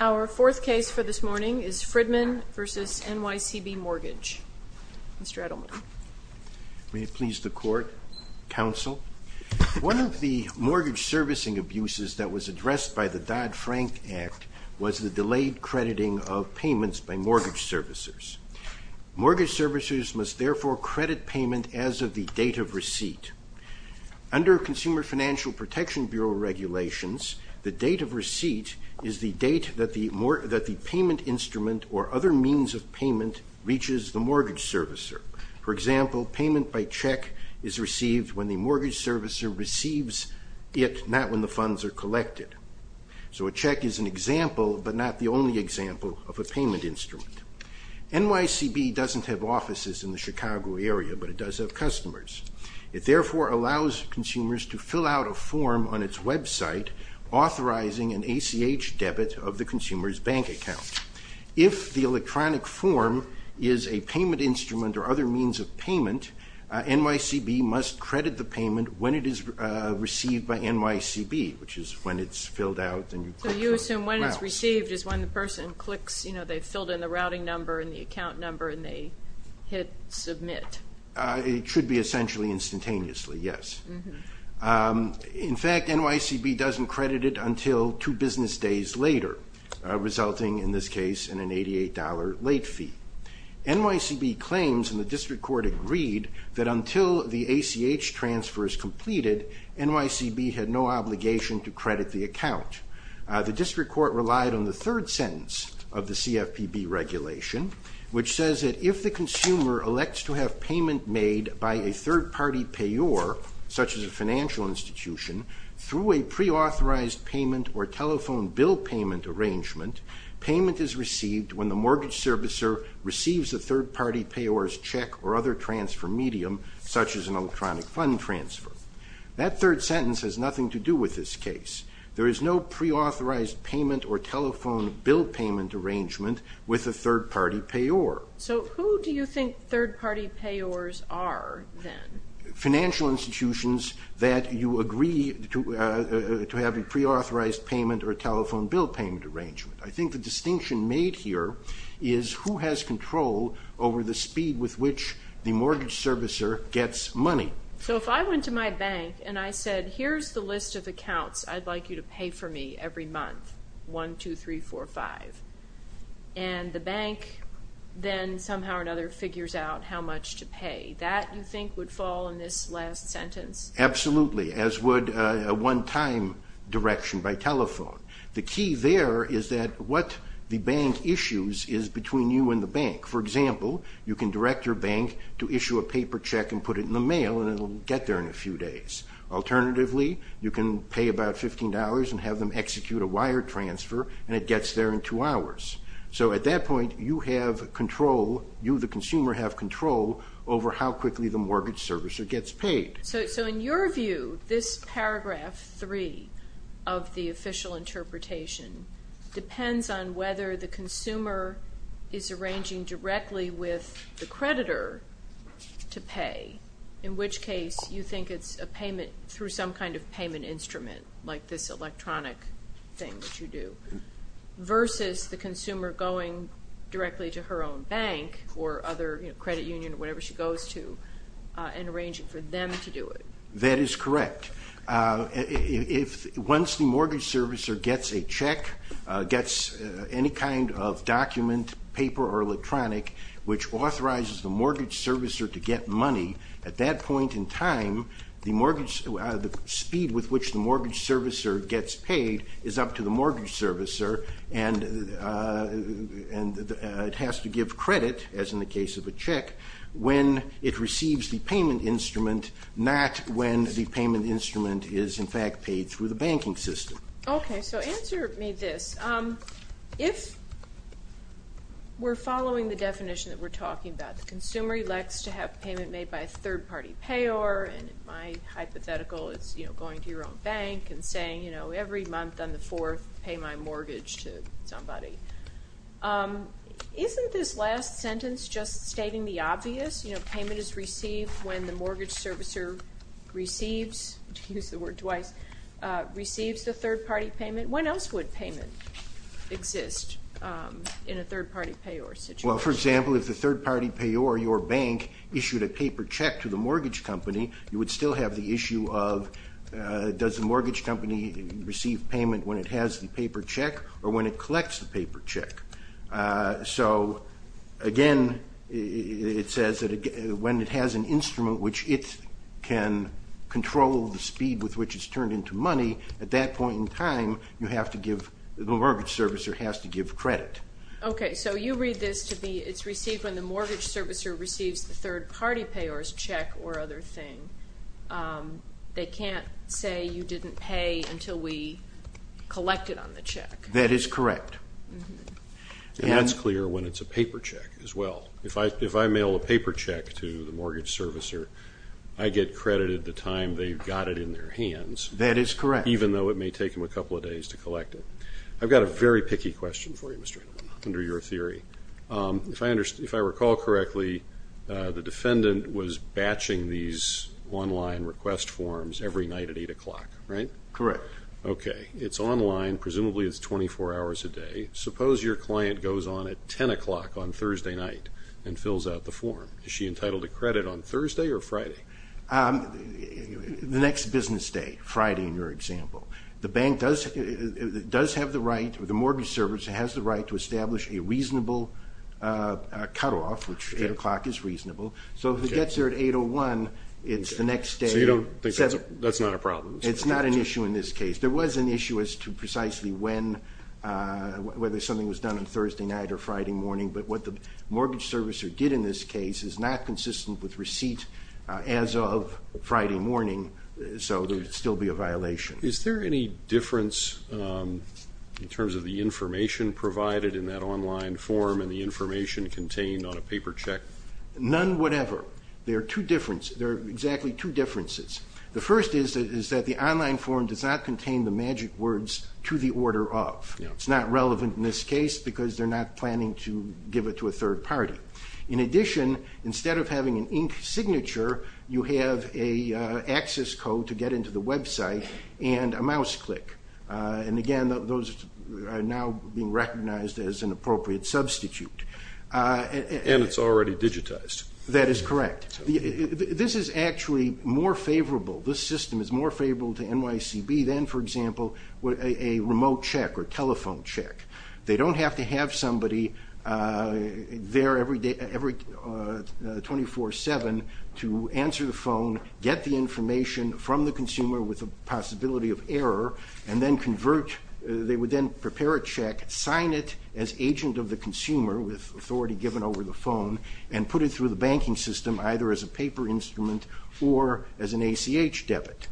Our fourth case for this morning is Fridman v. NYCB Mortgage. Mr. Edelman. May it please the Court, Counsel? One of the mortgage servicing abuses that was addressed by the Dodd-Frank Act was the delayed crediting of payments by mortgage servicers. Mortgage servicers must therefore credit payment as of the date of receipt. Under Consumer Financial Protection Bureau regulations, the date of receipt is the date that the payment instrument or other means of payment reaches the mortgage servicer. For example, payment by check is received when the mortgage servicer receives it, not when the funds are collected. So a check is an example, but not the only example, of a payment instrument. NYCB doesn't have offices in the Chicago area, but it does have customers. It therefore allows consumers to fill out a form on its website authorizing an ACH debit of the consumer's bank account. If the electronic form is a payment instrument or other means of payment, NYCB must credit the payment when it is received by NYCB, which is when it's filled out and you put it forward. So you assume when it's received is when the person clicks, they've filled in the routing number and the account number and they hit submit. It should be essentially instantaneously, yes. In fact, NYCB doesn't credit it until two business days later, resulting in this case in an $88 late fee. NYCB claims, and the district court agreed, that until the ACH transfer is completed, NYCB had no obligation to credit the account. The district court relied on the third sentence of the CFPB regulation, which says that if the consumer elects to have payment made by a third-party payor, such as a financial institution, through a preauthorized payment or telephone bill payment arrangement, payment is received when the mortgage servicer receives a third-party payor's check or other transfer medium, such as an electronic fund transfer. That third sentence has nothing to do with this case. There is no preauthorized payment or telephone bill payment arrangement with a third-party payor. So who do you think third-party payors are then? Financial institutions that you agree to have a preauthorized payment or telephone bill payment arrangement. I think the distinction made here is who has control over the speed with which the mortgage servicer gets money. So if I went to my bank and I said, here's the list of accounts I'd like you to pay for me every month, 1, 2, 3, 4, 5. And the bank then somehow or another figures out how much to pay. That, you think, would fall in this last sentence? Absolutely, as would a one-time direction by telephone. The key there is that what the bank issues is between you and the bank. For example, you can direct your bank to issue a paper check and put it in the mail, and it will get there in a few days. Alternatively, you can pay about $15 and have them execute a wire transfer, and it gets there in two hours. So at that point, you, the consumer, have control over how quickly the mortgage servicer gets paid. So in your view, this paragraph 3 of the official interpretation depends on whether the consumer is arranging directly with the creditor to pay, in which case you think it's a payment through some kind of payment instrument, like this electronic thing that you do, versus the consumer going directly to her own bank or other credit union or whatever she goes to and arranging for them to do it. That is correct. Once the mortgage servicer gets a check, gets any kind of document, paper, or electronic, which authorizes the mortgage servicer to get money, at that point in time the speed with which the mortgage servicer gets paid is up to the mortgage servicer, and it has to give credit, as in the case of a check, when it receives the payment instrument, not when the payment instrument is in fact paid through the banking system. Okay, so answer me this. If we're following the definition that we're talking about, the consumer elects to have payment made by a third-party payer, and in my hypothetical it's going to your own bank and saying, every month on the 4th pay my mortgage to somebody. Isn't this last sentence just stating the obvious? Payment is received when the mortgage servicer receives, to use the word twice, receives the third-party payment. When else would payment exist in a third-party payer situation? Well, for example, if the third-party payer, your bank, issued a paper check to the mortgage company, you would still have the issue of does the mortgage company receive payment when it has the paper check or when it collects the paper check. So, again, it says that when it has an instrument which it can control the speed with which it's turned into money, at that point in time you have to give, the mortgage servicer has to give credit. Okay, so you read this to be it's received when the mortgage servicer receives the third-party payer's check or other thing. They can't say you didn't pay until we collect it on the check. That is correct. And that's clear when it's a paper check as well. If I mail a paper check to the mortgage servicer, I get credited the time they've got it in their hands. That is correct. Even though it may take them a couple of days to collect it. I've got a very picky question for you, Mr. Hanelman, under your theory. If I recall correctly, the defendant was batching these online request forms every night at 8 o'clock, right? Correct. Okay. It's online. Presumably it's 24 hours a day. Suppose your client goes on at 10 o'clock on Thursday night and fills out the form. Is she entitled to credit on Thursday or Friday? The next business day, Friday in your example. The mortgage servicer has the right to establish a reasonable cutoff, which 8 o'clock is reasonable. So if it gets there at 8 o'clock, it's the next day. So you don't think that's not a problem? It's not an issue in this case. There was an issue as to precisely when, whether something was done on Thursday night or Friday morning. But what the mortgage servicer did in this case is not consistent with receipt as of Friday morning. So there would still be a violation. Is there any difference in terms of the information provided in that online form and the information contained on a paper check? None whatever. There are two differences. There are exactly two differences. The first is that the online form does not contain the magic words, to the order of. It's not relevant in this case because they're not planning to give it to a third party. In addition, instead of having an ink signature, you have a access code to get into the website and a mouse click. And again, those are now being recognized as an appropriate substitute. And it's already digitized. That is correct. This is actually more favorable. This system is more favorable to NYCB than, for example, a remote check or telephone check. They don't have to have somebody there every 24-7 to answer the phone, get the information from the consumer with a possibility of error, and then convert. They would then prepare a check, sign it as agent of the consumer with authority given over the phone, and put it through the banking system either as a paper instrument or as an ACH debit.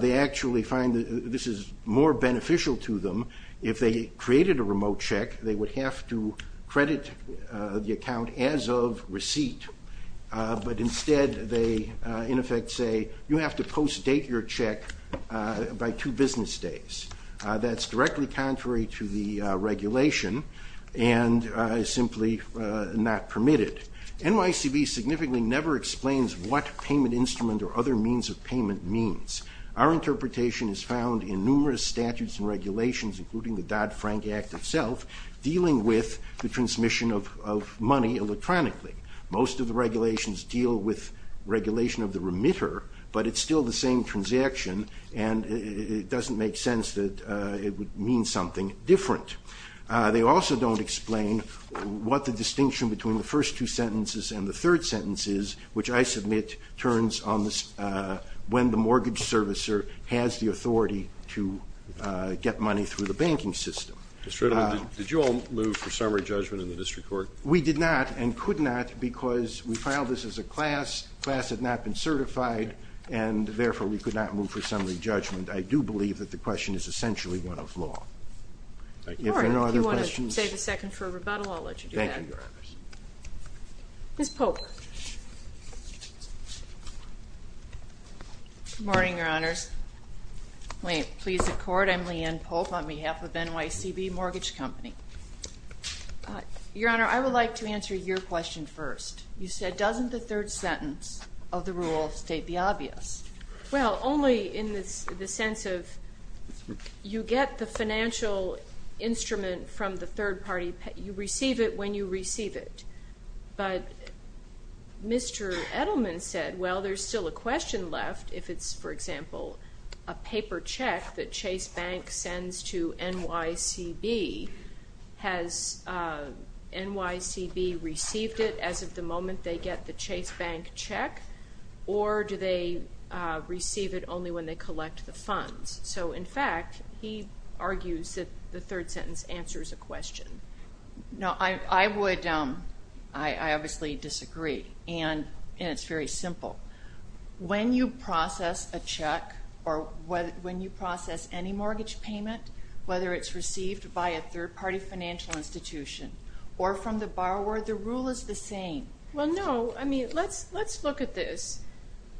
They actually find that this is more beneficial to them if they created a remote check. They would have to credit the account as of receipt. But instead they, in effect, say you have to post-date your check by two business days. That's directly contrary to the regulation and simply not permitted. NYCB significantly never explains what payment instrument or other means of payment means. Our interpretation is found in numerous statutes and regulations, including the Dodd-Frank Act itself, dealing with the transmission of money electronically. Most of the regulations deal with regulation of the remitter, but it's still the same transaction, and it doesn't make sense that it would mean something different. They also don't explain what the distinction between the first two sentences and the third sentence is, which I submit turns on when the mortgage servicer has the authority to get money through the banking system. Did you all move for summary judgment in the district court? We did not and could not because we filed this as a class. Class had not been certified and, therefore, we could not move for summary judgment. I do believe that the question is essentially one of law. If there are no other questions. All right. If you want to save a second for rebuttal, I'll let you do that. Thank you, Your Honor. Ms. Polk. Good morning, Your Honors. May it please the Court, I'm Leanne Polk on behalf of NYCB Mortgage Company. Your Honor, I would like to answer your question first. You said, doesn't the third sentence of the rule of state be obvious? Well, only in the sense of you get the financial instrument from the third party. You receive it when you receive it. But Mr. Edelman said, well, there's still a question left if it's, for example, a paper check that Chase Bank sends to NYCB. Has NYCB received it as of the moment they get the Chase Bank check? Or do they receive it only when they collect the funds? So, in fact, he argues that the third sentence answers a question. No, I would, I obviously disagree. And it's very simple. When you process a check or when you process any mortgage payment, whether it's received by a third-party financial institution or from the borrower, the rule is the same. Well, no, I mean, let's look at this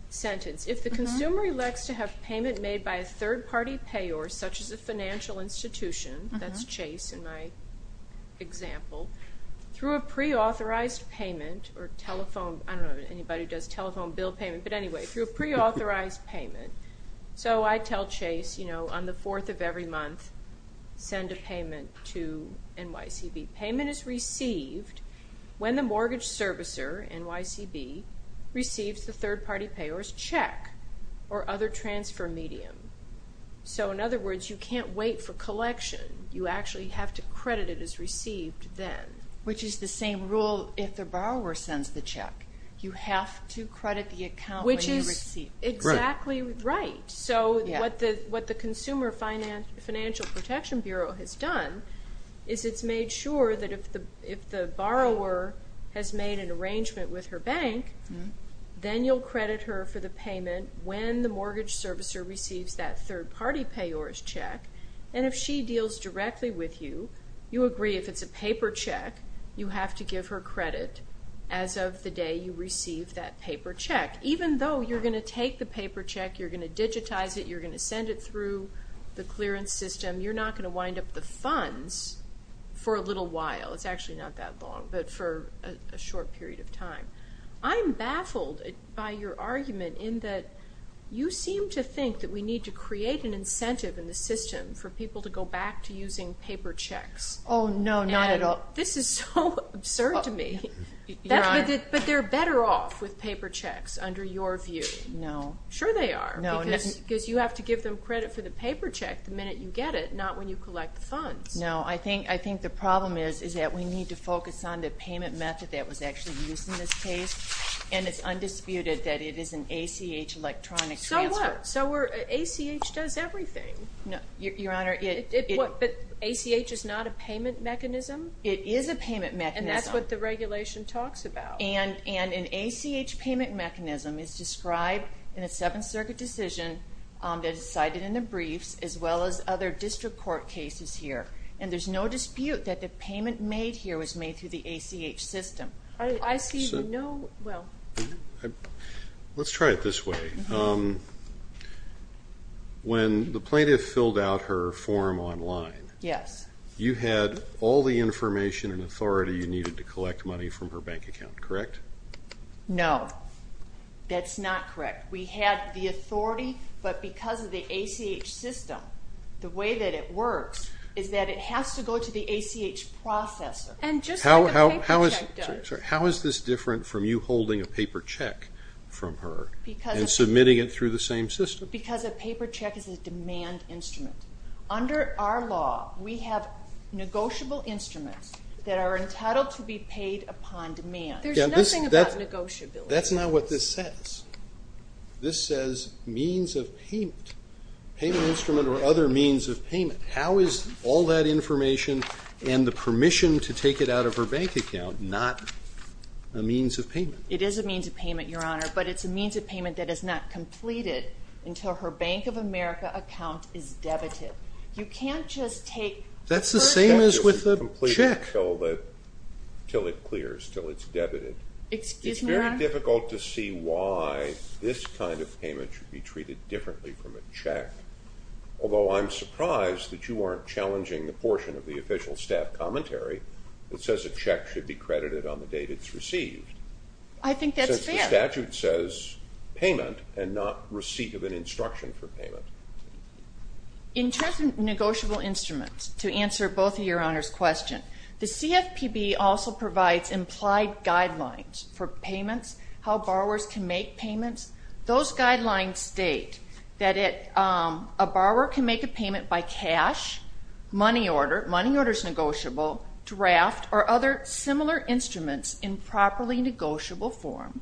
sentence. If the consumer elects to have payment made by a third-party payor, such as a financial institution, that's Chase in my example, through a pre-authorized payment or telephone, I don't know, anybody who does telephone bill payment, but anyway, through a pre-authorized payment. So I tell Chase, you know, on the fourth of every month, send a payment to NYCB. Payment is received when the mortgage servicer, NYCB, receives the third-party payor's check or other transfer medium. So, in other words, you can't wait for collection. You actually have to credit it as received then. Which is the same rule if the borrower sends the check. You have to credit the account when you receive it. Which is exactly right. So what the Consumer Financial Protection Bureau has done is it's made sure that if the borrower has made an arrangement with her bank, then you'll credit her for the payment when the mortgage servicer receives that third-party payor's check. And if she deals directly with you, you agree if it's a paper check, you have to give her credit as of the day you receive that paper check. Even though you're going to take the paper check, you're going to digitize it, you're going to send it through the clearance system, you're not going to wind up the funds for a little while. It's actually not that long, but for a short period of time. I'm baffled by your argument in that you seem to think that we need to create an incentive in the system for people to go back to using paper checks. Oh, no, not at all. This is so absurd to me. But they're better off with paper checks under your view. No. Sure they are. Because you have to give them credit for the paper check the minute you get it, not when you collect the funds. No. I think the problem is that we need to focus on the payment method that was actually used in this case, and it's undisputed that it is an ACH electronic transfer. So what? ACH does everything. Your Honor. But ACH is not a payment mechanism? It is a payment mechanism. And that's what the regulation talks about. And an ACH payment mechanism is described in a Seventh Circuit decision that is cited in the briefs, as well as other district court cases here. And there's no dispute that the payment made here was made through the ACH system. I see no – well. Let's try it this way. When the plaintiff filled out her form online, you had all the information and authority you needed to collect money from her bank account, correct? No. That's not correct. We had the authority, but because of the ACH system, the way that it works is that it has to go to the ACH processor. And just like a paper check does. How is this different from you holding a paper check from her and submitting it through the same system? Because a paper check is a demand instrument. Under our law, we have negotiable instruments that are entitled to be paid upon demand. There's nothing about negotiability. That's not what this says. This says means of payment, payment instrument or other means of payment. How is all that information and the permission to take it out of her bank account not a means of payment? It is a means of payment, Your Honor, but it's a means of payment that is not completed until her Bank of America account is debited. You can't just take her check. That's the same as with a check. Until it clears, until it's debited. Excuse me, Your Honor. It's very difficult to see why this kind of payment should be treated differently from a check, although I'm surprised that you aren't challenging the portion of the official staff commentary that says a check should be credited on the date it's received. I think that's fair. Since the statute says payment and not receipt of an instruction for payment. In terms of negotiable instruments, to answer both of Your Honor's questions, the CFPB also provides implied guidelines for payments, how borrowers can make payments. Those guidelines state that a borrower can make a payment by cash, money order. Money order is negotiable. Draft or other similar instruments in properly negotiable form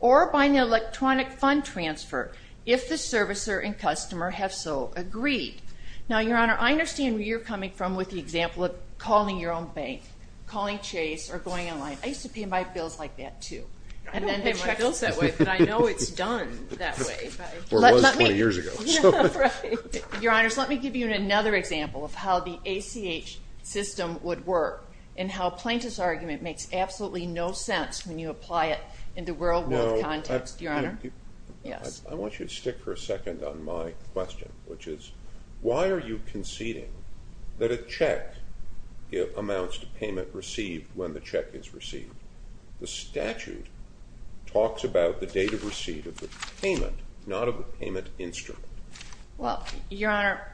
or by an electronic fund transfer if the servicer and customer have so agreed. Now, Your Honor, I understand where you're coming from with the example of calling your own bank, calling Chase or going online. I used to pay my bills like that too. I don't pay my bills that way, but I know it's done that way. Or was 20 years ago. Your Honors, let me give you another example of how the ACH system would work and how Plaintiff's argument makes absolutely no sense when you apply it in the real world context, Your Honor. I want you to stick for a second on my question, which is why are you conceding that a check amounts to payment received when the check is received? The statute talks about the date of receipt of the payment, not of the payment instrument. Well, Your Honor,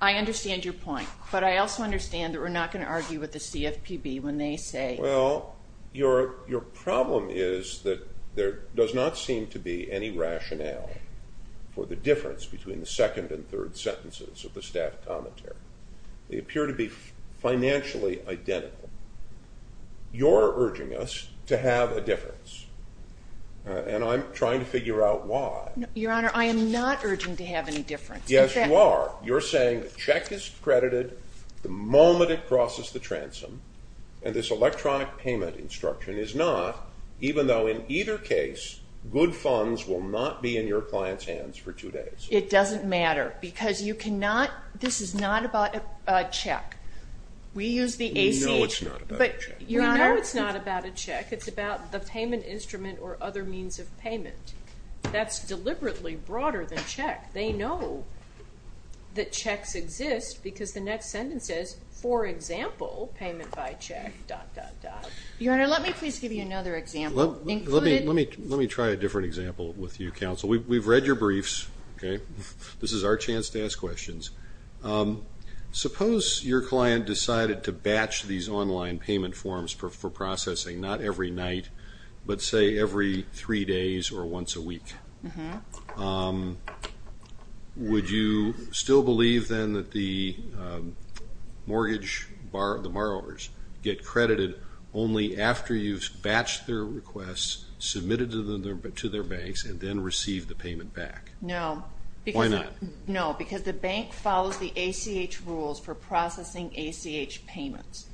I understand your point, but I also understand that we're not going to argue with the CFPB when they say... Well, your problem is that there does not seem to be any rationale for the difference between the second and third sentences of the staff commentary. They appear to be financially identical. You're urging us to have a difference, and I'm trying to figure out why. Your Honor, I am not urging to have any difference. Yes, you are. You're saying the check is credited the moment it crosses the transom, and this electronic payment instruction is not, even though in either case, good funds will not be in your client's hands for two days. It doesn't matter, because you cannot... This is not about a check. We use the ACA. No, it's not about a check. You know it's not about a check. It's about the payment instrument or other means of payment. That's deliberately broader than check. They know that checks exist because the next sentence says, for example, payment by check, dot, dot, dot. Your Honor, let me please give you another example. Let me try a different example with you, counsel. We've read your briefs. This is our chance to ask questions. Suppose your client decided to batch these online payment forms for processing, not every night, but, say, every three days or once a week. Would you still believe then that the mortgage borrowers get credited only after you've batched their requests, submitted them to their banks, and then received the payment back? No. Why not? No, because the bank follows the ACH rules for processing ACH payments,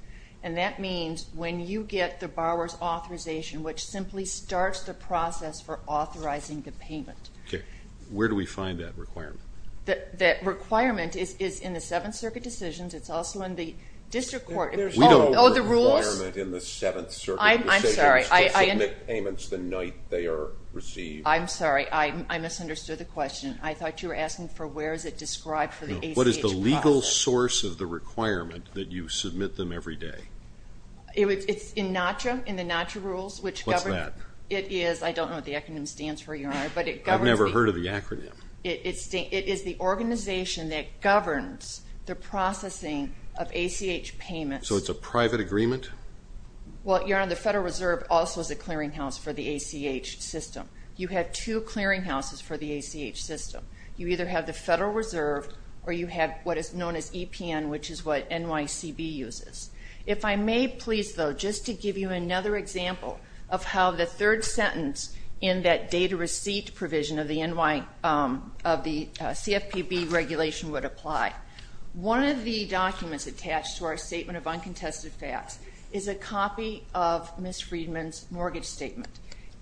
and that means when you get the borrower's authorization, which simply starts the process for authorizing the payment. Okay. Where do we find that requirement? That requirement is in the Seventh Circuit decisions. It's also in the district court. There's no requirement in the Seventh Circuit decisions to submit payments the night they are received. I'm sorry. I misunderstood the question. I thought you were asking for where is it described for the ACH process. What is the legal source of the requirement that you submit them every day? It's in NACCHA, in the NACCHA rules, which governs. What's that? It is, I don't know what the acronym stands for, Your Honor, but it governs. I've never heard of the acronym. It is the organization that governs the processing of ACH payments. So it's a private agreement? Well, Your Honor, the Federal Reserve also is a clearinghouse for the ACH system. You have two clearinghouses for the ACH system. You either have the Federal Reserve or you have what is known as EPN, which is what NYCB uses. If I may, please, though, just to give you another example of how the third sentence in that data receipt provision of the CFPB regulation would apply. One of the documents attached to our Statement of Uncontested Facts is a copy of Ms. Friedman's mortgage statement.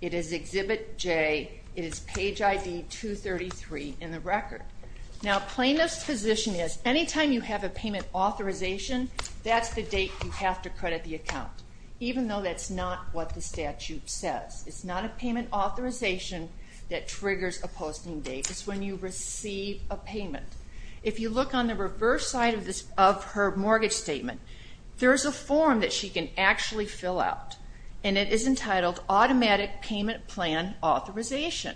It is Exhibit J. It is page ID 233 in the record. Now, plaintiff's position is anytime you have a payment authorization, that's the date you have to credit the account, even though that's not what the statute says. It's not a payment authorization that triggers a posting date. It's when you receive a payment. If you look on the reverse side of her mortgage statement, there's a form that she can actually fill out, and it is entitled Automatic Payment Plan Authorization.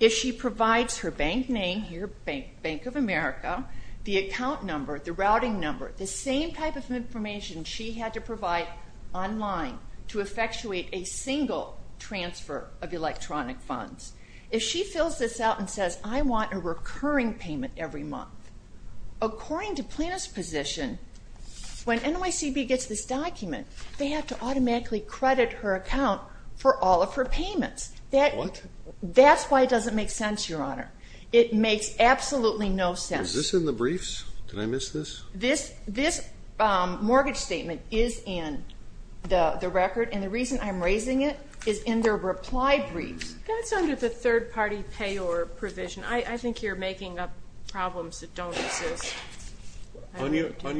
If she provides her bank name here, Bank of America, the account number, the routing number, the same type of information she had to provide online to effectuate a single transfer of electronic funds. If she fills this out and says, I want a recurring payment every month, according to plaintiff's position, when NYCB gets this document, they have to automatically credit her account for all of her payments. What? That's why it doesn't make sense, Your Honor. It makes absolutely no sense. Is this in the briefs? Did I miss this? This mortgage statement is in the record, and the reason I'm raising it is in their reply briefs. That's under the third-party payor provision. I think you're making up problems that don't exist. On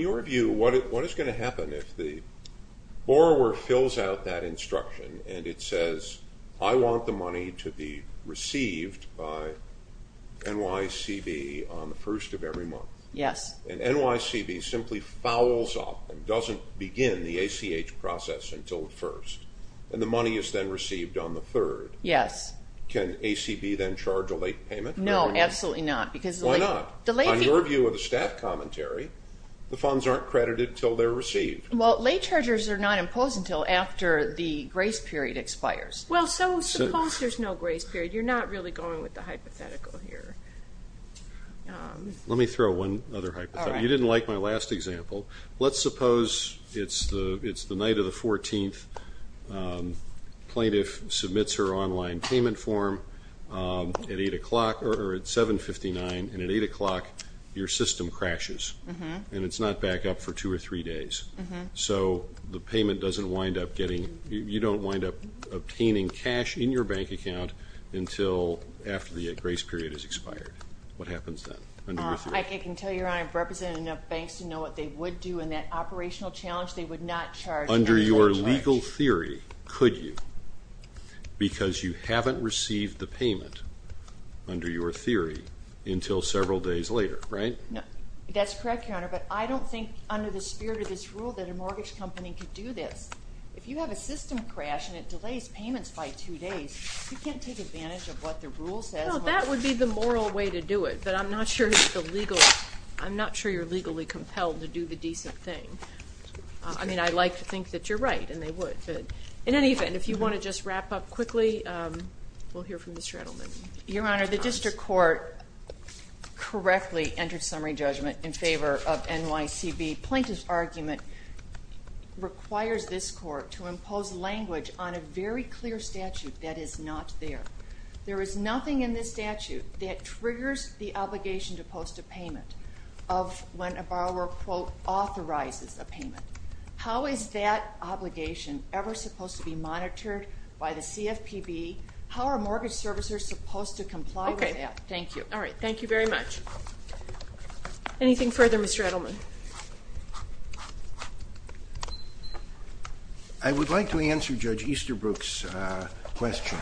your view, what is going to happen if the borrower fills out that instruction and it says, I want the money to be received by NYCB on the first of every month? Yes. And NYCB simply fouls off and doesn't begin the ACH process until the first, and the money is then received on the third. Yes. Can ACB then charge a late payment? No, absolutely not. Why not? On your view of the staff commentary, the funds aren't credited until they're received. Well, late chargers are not imposed until after the grace period expires. Well, so suppose there's no grace period. You're not really going with the hypothetical here. Let me throw one other hypothetical. You didn't like my last example. Let's suppose it's the night of the 14th. Plaintiff submits her online payment form at 7.59, and at 8 o'clock, your system crashes. And it's not back up for two or three days. So the payment doesn't wind up getting you don't wind up obtaining cash in your bank account until after the grace period has expired. What happens then? I can tell you, Your Honor, I've represented enough banks to know what they would do in that operational challenge. They would not charge a late charge. Under your legal theory, could you? Because you haven't received the payment under your theory until several days later, right? That's correct, Your Honor, but I don't think under the spirit of this rule that a mortgage company could do this. If you have a system crash and it delays payments by two days, you can't take advantage of what the rule says. Well, that would be the moral way to do it, but I'm not sure you're legally compelled to do the decent thing. I mean, I'd like to think that you're right, and they would. But in any event, if you want to just wrap up quickly, we'll hear from Ms. Shreddleman. Your Honor, the district court correctly entered summary judgment in favor of NYCB. Plaintiff's argument requires this court to impose language on a very clear statute that is not there. There is nothing in this statute that triggers the obligation to post a payment of when a borrower, quote, authorizes a payment. How is that obligation ever supposed to be monitored by the CFPB? How are mortgage servicers supposed to comply with that? Okay, thank you. All right, thank you very much. Anything further, Mr. Edelman? I would like to answer Judge Easterbrook's question.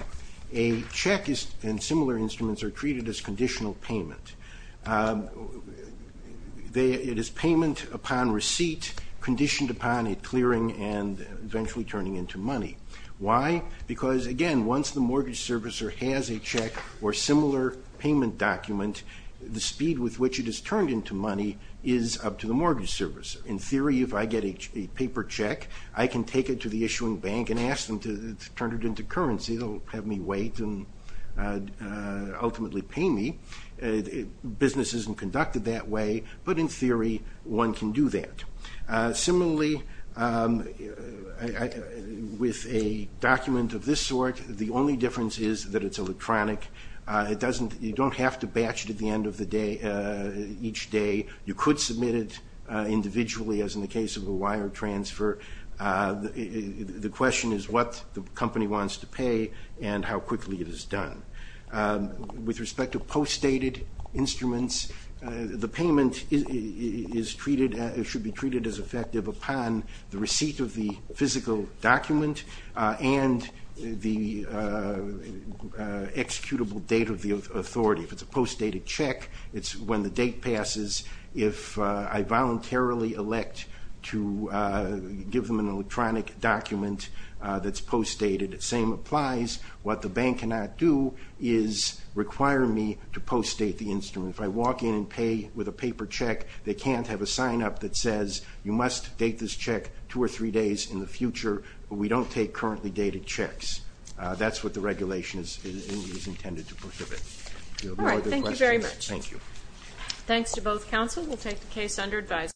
A check and similar instruments are treated as conditional payment. It is payment upon receipt, conditioned upon it clearing and eventually turning into money. Why? Because, again, once the mortgage servicer has a check or similar payment document, the speed with which it is turned into money is up to the mortgage servicer. In theory, if I get a paper check, I can take it to the issuing bank and ask them to turn it into currency. They'll have me wait and ultimately pay me. Business isn't conducted that way, but in theory, one can do that. Similarly, with a document of this sort, the only difference is that it's electronic. You don't have to batch it at the end of each day. You could submit it individually, as in the case of a wire transfer. The question is what the company wants to pay and how quickly it is done. With respect to postdated instruments, the payment should be treated as effective upon the receipt of the physical document and the executable date of the authority. If it's a postdated check, it's when the date passes. If I voluntarily elect to give them an electronic document that's postdated, same applies. What the bank cannot do is require me to postdate the instrument. If I walk in and pay with a paper check, they can't have a sign-up that says, you must date this check two or three days in the future. We don't take currently dated checks. That's what the regulation is intended to prohibit. All right. Thank you very much. Thank you. Thanks to both counsel. We'll take the case under advisory.